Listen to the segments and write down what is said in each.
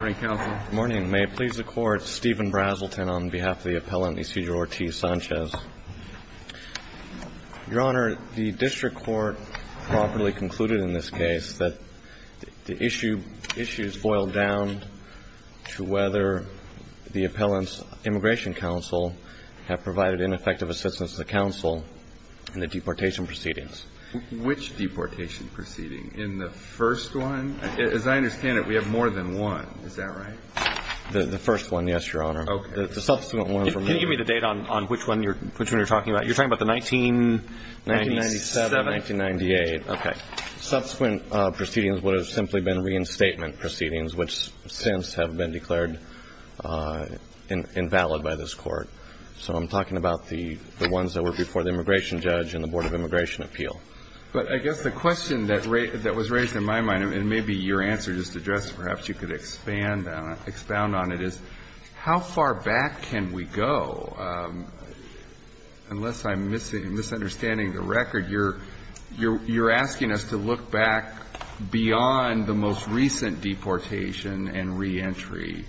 Good morning, may it please the Court, Stephen Brazelton on behalf of the appellant Ecejor Ortiz Sanchez. Your Honor, the district court properly concluded in this case that the issue is boiled down to whether the appellant's immigration counsel have provided ineffective assistance to the counsel in the deportation proceedings. Which deportation proceeding? In the first one? As I understand it, we have more than one. Is that right? The first one, yes, Your Honor. Okay. The subsequent one for me. Can you give me the date on which one you're talking about? You're talking about the 1997? 1997, 1998. Okay. Subsequent proceedings would have simply been reinstatement proceedings, which since have been declared invalid by this Court. So I'm talking about the ones that were before the immigration judge and the Board of Immigration Appeal. But I guess the question that was raised in my mind, and maybe your answer just addressed perhaps you could expand on it, is how far back can we go? Unless I'm misunderstanding the record, you're asking us to look back beyond the most recent deportation and reentry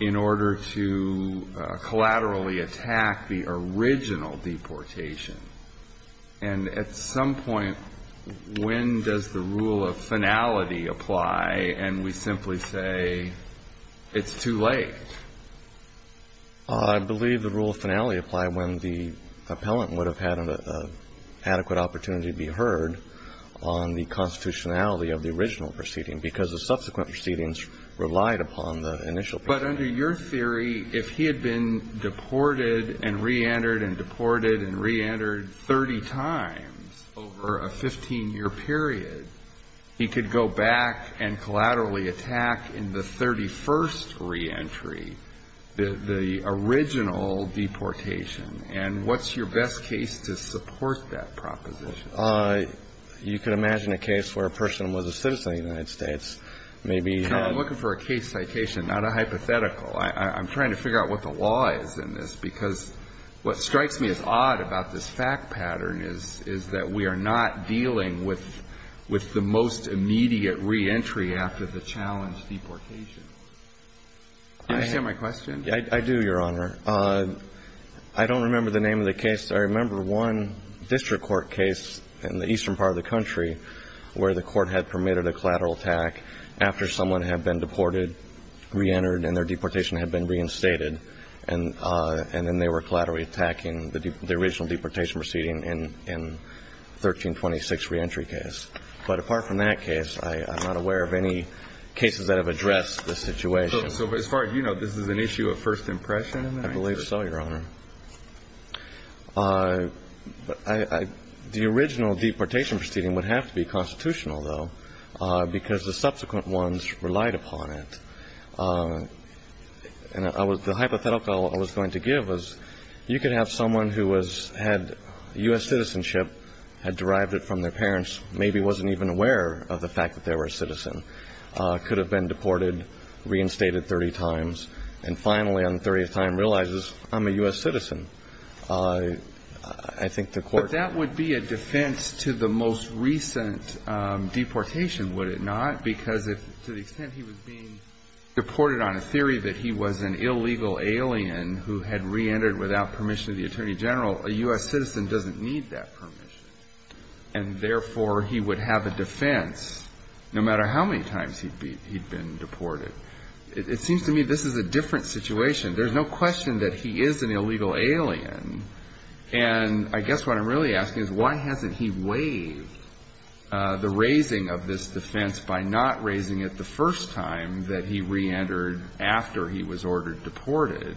in order to collaterally attack the original deportation. And at some point, when does the rule of finality apply, and we simply say it's too late? I believe the rule of finality applied when the appellant would have had an adequate opportunity to be heard on the constitutionality of the original proceeding, because the subsequent proceedings relied upon the initial proceeding. But under your theory, if he had been deported and reentered and deported and reentered 30 times over a 15-year period, he could go back and collaterally attack in the 31st reentry the original deportation. And what's your best case to support that proposition? You could imagine a case where a person was a citizen of the United States, maybe. I'm looking for a case citation, not a hypothetical. I'm trying to figure out what the law is in this, because what strikes me as odd about this fact pattern is, is that we are not dealing with the most immediate reentry after the challenge deportation. Do you understand my question? I do, Your Honor. I don't remember the name of the case. I remember one district court case in the eastern part of the country where the court had permitted a collateral attack after someone had been deported, reentered, and their deportation had been reinstated, and then they were collaterally attacking the original deportation proceeding in 1326 reentry case. But apart from that case, I'm not aware of any cases that have addressed this situation. So as far as you know, this is an issue of first impression? I believe so, Your Honor. The original deportation proceeding would have to be constitutional, though, because the subsequent ones relied upon it. And the hypothetical I was going to give was you could have someone who had U.S. citizenship, had derived it from their parents, maybe wasn't even aware of the fact that they were a citizen, could have been deported, reinstated 30 times, and finally on the 30th time realizes, I'm a U.S. citizen. I think the court ---- to the most recent deportation, would it not? Because to the extent he was being deported on a theory that he was an illegal alien who had reentered without permission of the attorney general, a U.S. citizen doesn't need that permission. And therefore, he would have a defense no matter how many times he'd been deported. It seems to me this is a different situation. There's no question that he is an illegal alien. And I guess what I'm really asking is why hasn't he waived the raising of this defense by not raising it the first time that he reentered after he was ordered deported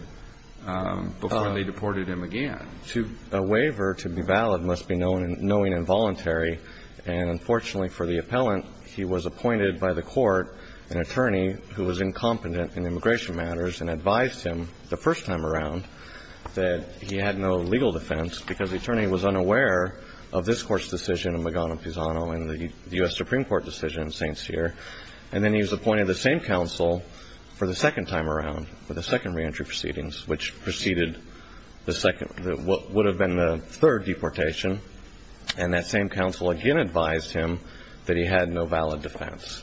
before they deported him again? To ---- A waiver to be valid must be knowing and voluntary. And unfortunately for the appellant, he was appointed by the court an attorney who was incompetent in immigration matters and advised him the first time around that he had no legal defense because the attorney was unaware of this Court's decision in Mogano-Pisano and the U.S. Supreme Court decision in St. Cyr. And then he was appointed to the same counsel for the second time around, for the second reentry proceedings, which preceded the second ---- what would have been the third deportation. And that same counsel again advised him that he had no valid defense.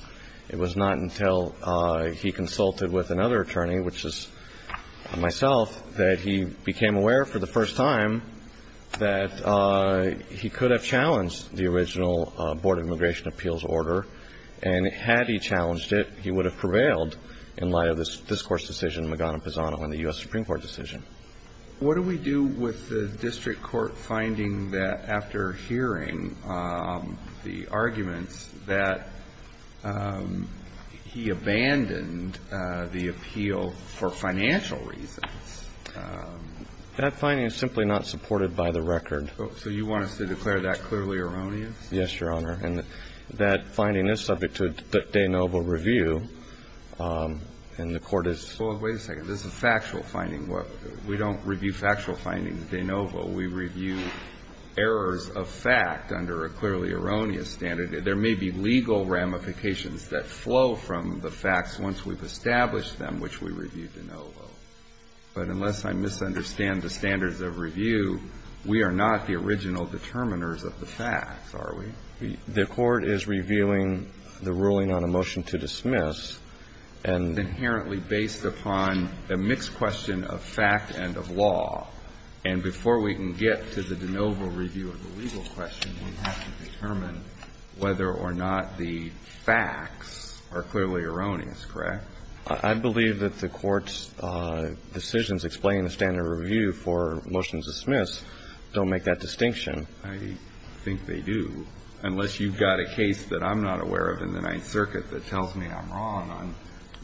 It was not until he consulted with another attorney, which is myself, that he became aware for the first time that he could have challenged the original Board of Immigration Appeals order. And had he challenged it, he would have prevailed in light of this Court's decision in Mogano-Pisano and the U.S. Supreme Court decision. What do we do with the district court finding that after hearing the arguments that he abandoned the appeal for financial reasons? That finding is simply not supported by the record. So you want us to declare that clearly erroneous? Yes, Your Honor. And that finding is subject to de novo review, and the Court has ---- Well, wait a second. This is a factual finding. We don't review factual findings de novo. We review errors of fact under a clearly erroneous standard. There may be legal ramifications that flow from the facts once we've established them, which we review de novo. But unless I misunderstand the standards of review, we are not the original determiners of the facts, are we? The Court is reviewing the ruling on a motion to dismiss and ---- It's inherently based upon a mixed question of fact and of law. And before we can get to the de novo review of the legal question, we have to determine whether or not the facts are clearly erroneous, correct? I believe that the Court's decisions explaining the standard of review for motions to dismiss don't make that distinction. I think they do, unless you've got a case that I'm not aware of in the Ninth Circuit that tells me I'm wrong on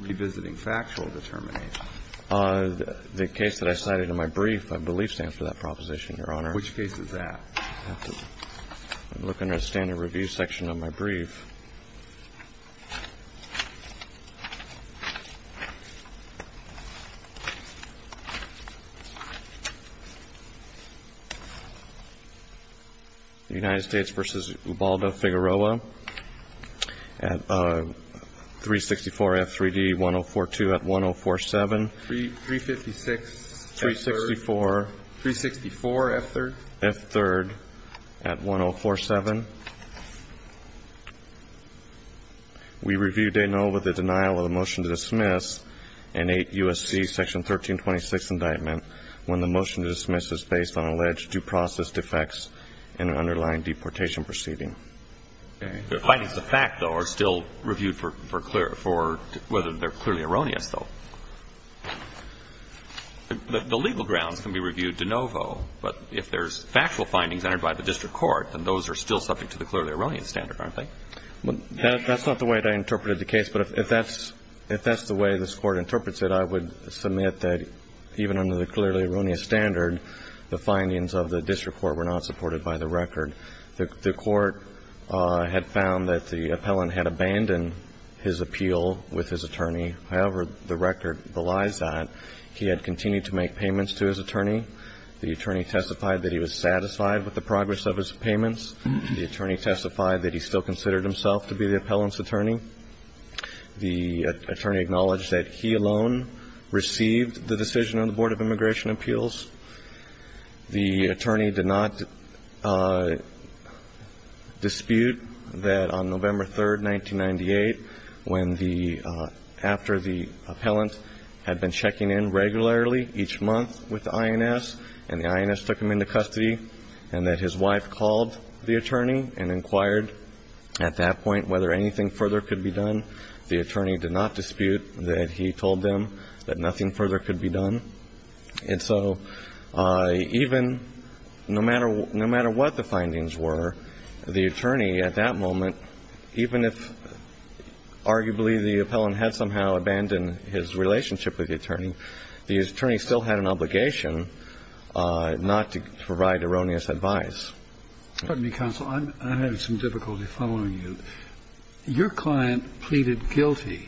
revisiting factual determination. The case that I cited in my brief, I believe, stands for that proposition, Your Honor. Which case is that? I have to look under the standard of review section of my brief. The United States v. Ubaldo Figueroa at 364F3D1042 at 1047. 356F3? 364. 364F3? F3 at 1047. We review de novo the denial of the motion to dismiss in 8 U.S.C. section 1326 indictment when the motion to dismiss is based on alleged due process defects in an underlying deportation proceeding. The findings of fact, though, are still reviewed for clear ---- for whether they're clearly erroneous, though. The legal grounds can be reviewed de novo, but if there's factual findings entered by the district court, then those are still subject to the clearly erroneous standard, aren't they? That's not the way that I interpreted the case, but if that's the way this Court interprets it, I would submit that even under the clearly erroneous standard, the findings of the district court were not supported by the record. The court had found that the appellant had abandoned his appeal with his attorney. However, the record belies that. He had continued to make payments to his attorney. The attorney testified that he was satisfied with the progress of his payments. The attorney testified that he still considered himself to be the appellant's attorney. The attorney acknowledged that he alone received the decision on the Board of Immigration Appeals. The attorney did not dispute that on November 3rd, 1998, when the ---- after the appellant had been checking in regularly each month with the INS, and the INS took him into custody, and that his wife called the attorney and inquired at that point whether anything further could be done. The attorney did not dispute that he told them that nothing further could be done. And so even no matter what the findings were, the attorney at that moment, even if arguably the appellant had somehow abandoned his relationship with the attorney, the attorney still had an obligation not to provide erroneous advice. Excuse me, counsel. I'm having some difficulty following you. Your client pleaded guilty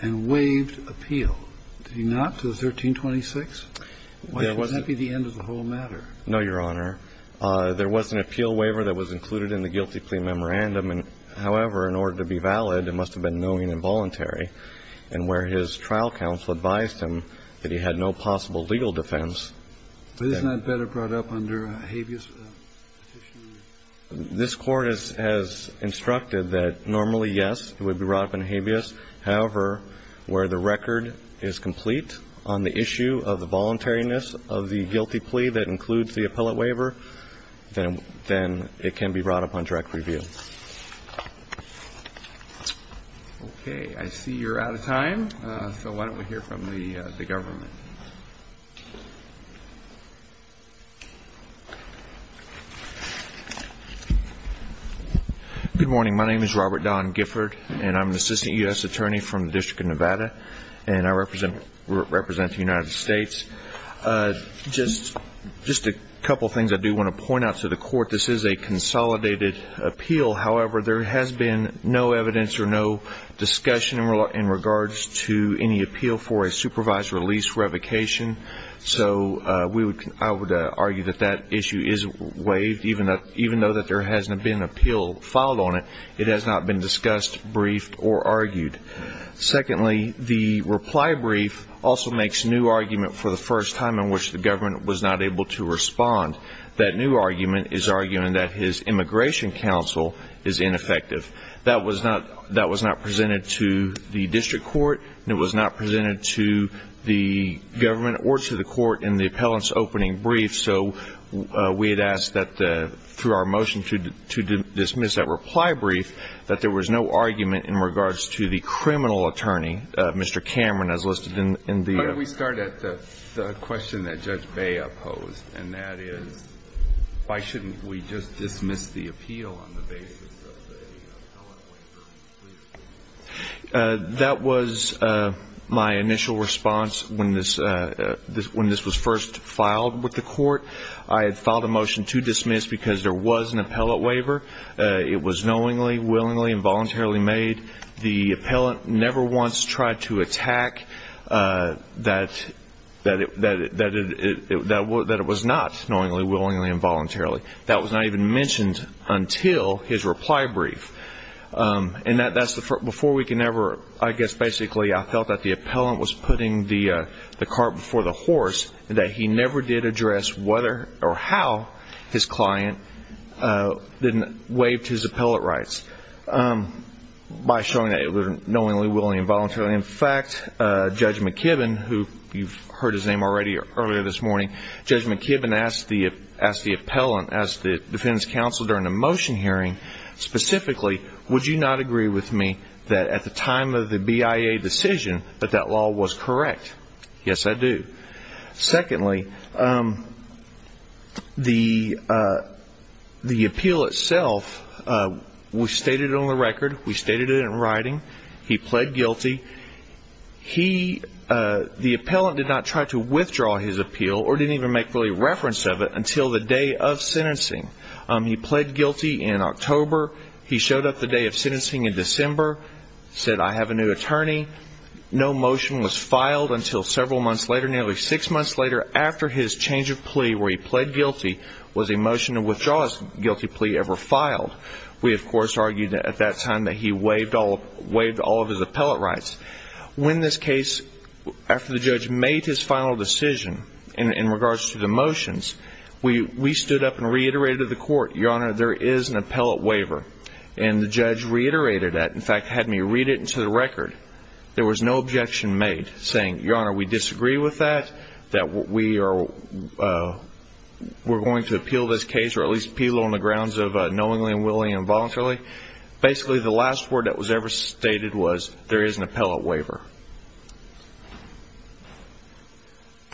and waived appeal. Did he not, to the 1326? Wouldn't that be the end of the whole matter? No, Your Honor. There was an appeal waiver that was included in the guilty plea memorandum. However, in order to be valid, it must have been knowing and voluntary, and where his trial counsel advised him that he had no possible legal defense. But isn't that better brought up under a habeas petition? This Court has instructed that normally, yes, it would be brought up in habeas. However, where the record is complete on the issue of the voluntariness of the guilty plea that includes the appellate waiver, then it can be brought up on direct review. Okay. I see you're out of time, so why don't we hear from the government. Good morning. My name is Robert Don Gifford, and I'm an assistant U.S. attorney from the District of Nevada, and I represent the United States. Just a couple things I do want to point out to the Court. This is a consolidated appeal. However, there has been no evidence or no discussion in regards to any appeal for a supervised release revocation. So I would argue that that issue is waived, even though that there hasn't been an appeal filed on it. It has not been discussed, briefed, or argued. Secondly, the reply brief also makes new argument for the first time in which the government was not able to respond. That new argument is arguing that his immigration counsel is ineffective. That was not presented to the district court, and it was not presented to the government or to the court in the appellant's opening brief. So we had asked that, through our motion to dismiss that reply brief, that there was no argument in regards to the criminal attorney, Mr. Cameron, as listed in the ---- Why don't we start at the question that Judge Bay opposed, and that is, why shouldn't we just dismiss the appeal on the basis of the appellate waiver? That was my initial response when this was first filed with the court. I had filed a motion to dismiss because there was an appellate waiver. It was knowingly, willingly, and voluntarily made. The appellant never once tried to attack that it was not knowingly, willingly, and voluntarily. That was not even mentioned until his reply brief. And that's before we can ever, I guess, basically, I felt that the appellant was putting the cart before the horse, that he never did address whether or how his client waived his appellate rights by showing that it was knowingly, willingly, and voluntarily. In fact, Judge McKibben, who you've heard his name already earlier this morning, Judge McKibben asked the appellant to defend his counsel during the motion hearing, specifically, would you not agree with me that at the time of the BIA decision that that law was correct? Yes, I do. Secondly, the appeal itself, we've stated it on the record, we've stated it in writing, he pled guilty, the appellant did not try to withdraw his sentencing. He pled guilty in October, he showed up the day of sentencing in December, said, I have a new attorney, no motion was filed until several months later, nearly six months later, after his change of plea where he pled guilty was a motion to withdraw his guilty plea ever filed. We, of course, argued at that time that he waived all of his appellate rights. When this case, after the judge made his final decision in regards to the motions, we stood up and re-examined the motions. We reiterated to the court, your honor, there is an appellate waiver. And the judge reiterated that, in fact, had me read it into the record. There was no objection made saying, your honor, we disagree with that, that we are going to appeal this case or at least appeal it on the grounds of knowingly and willingly and voluntarily. Basically, the last word that was ever stated was, there is an appellate waiver.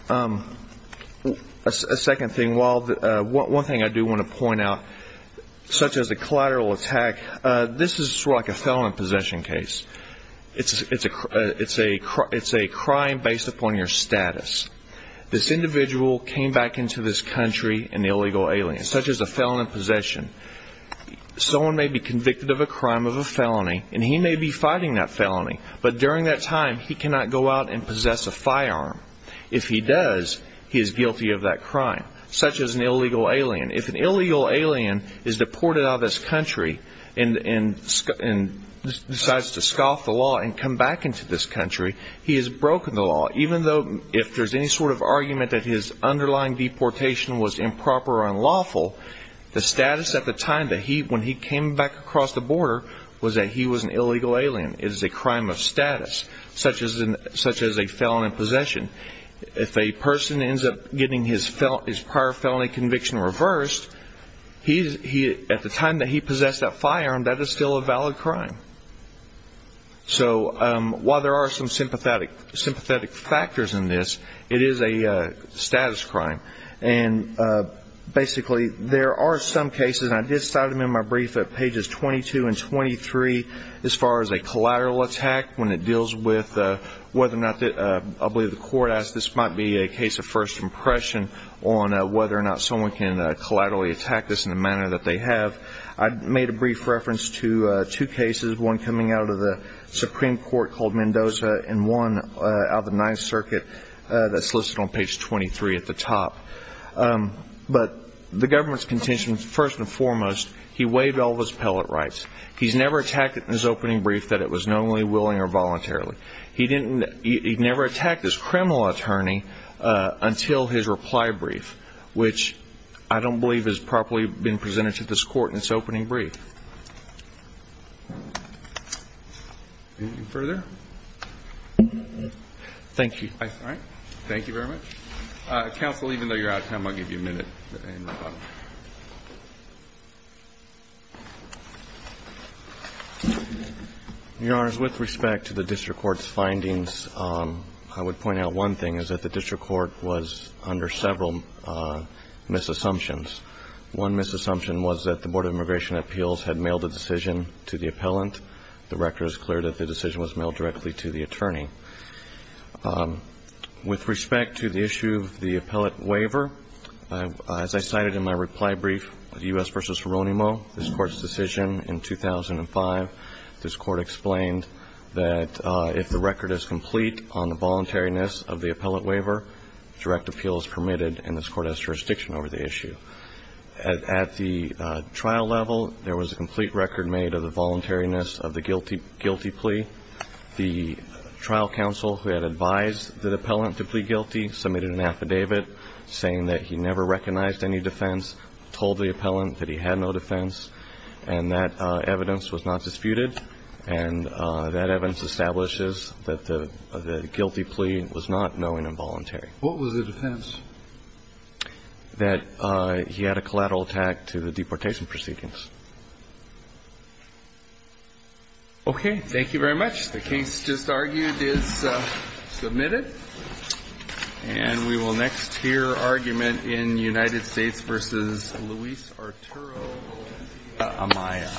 A second thing, one thing I do want to point out, such as a collateral attack, this is sort of like a felon in possession case. It's a crime based upon your status. This individual came back into this country an illegal alien, such as a felon in possession. Someone may be convicted of a crime of a felony, and he may be fighting that felony. But during that time, he cannot go out and possess a firearm. If he does, he is guilty of that crime, such as an illegal alien. If an illegal alien is deported out of this country and decides to scoff the law and come back into this country, he has broken the law. Even though if there is any sort of argument that his underlying deportation was improper or unlawful, the status at the time when he came back across the border was that he was an illegal alien. It is a crime of status, such as a felon in possession. If a person ends up getting his prior felony conviction reversed, at the time that he possessed that firearm, that is still a valid crime. So while there are some sympathetic factors in this, it is a status crime. And basically, there are some cases, and I did cite them in my brief at pages 22 and 23, as far as a collateral attack when it deals with whether or not, I believe the court asked, this might be a case of first impression on whether or not someone can collaterally attack this in the manner that they have. I made a brief reference to two cases, one coming out of the Supreme Court called Mendoza and one out of the Ninth Circuit that is listed on page 23 at the top. But the government's contention, first and foremost, he waived all of his appellate rights. He has never attacked it in his opening brief that it was knowingly, willingly, or voluntarily. He never attacked his criminal attorney until his reply brief, which I don't believe has properly been presented to this court in its opening brief. Thank you. Thank you very much. Counsel, even though you're out of time, I'll give you a minute. Your Honors, with respect to the district court's findings, I would point out one thing, is that the district court was under several misassumptions. One misassumption was that the Board of Immigration Appeals had mailed a decision to the appellant. The record is clear that the decision was mailed directly to the attorney. With respect to the issue of the appellate waiver, as I cited in my reply brief, U.S. v. Ronimo, this Court's decision in 2005, this Court explained that if the record is complete on the voluntariness of the appellate waiver, direct appeal is permitted and this Court has jurisdiction over the issue. At the trial level, there was a complete record made of the voluntariness of the guilty plea. The trial counsel who had advised the appellant to plead guilty submitted an affidavit saying that he never recognized any defense, told the appellant that he had no defense, and that evidence was not disputed. And that evidence establishes that the guilty plea was not knowing and voluntary. What was the defense? That he had a collateral attack to the deportation proceedings. Okay. Thank you very much. The case just argued is submitted. And we will next hear argument in United States v. Luis Arturo Amaya.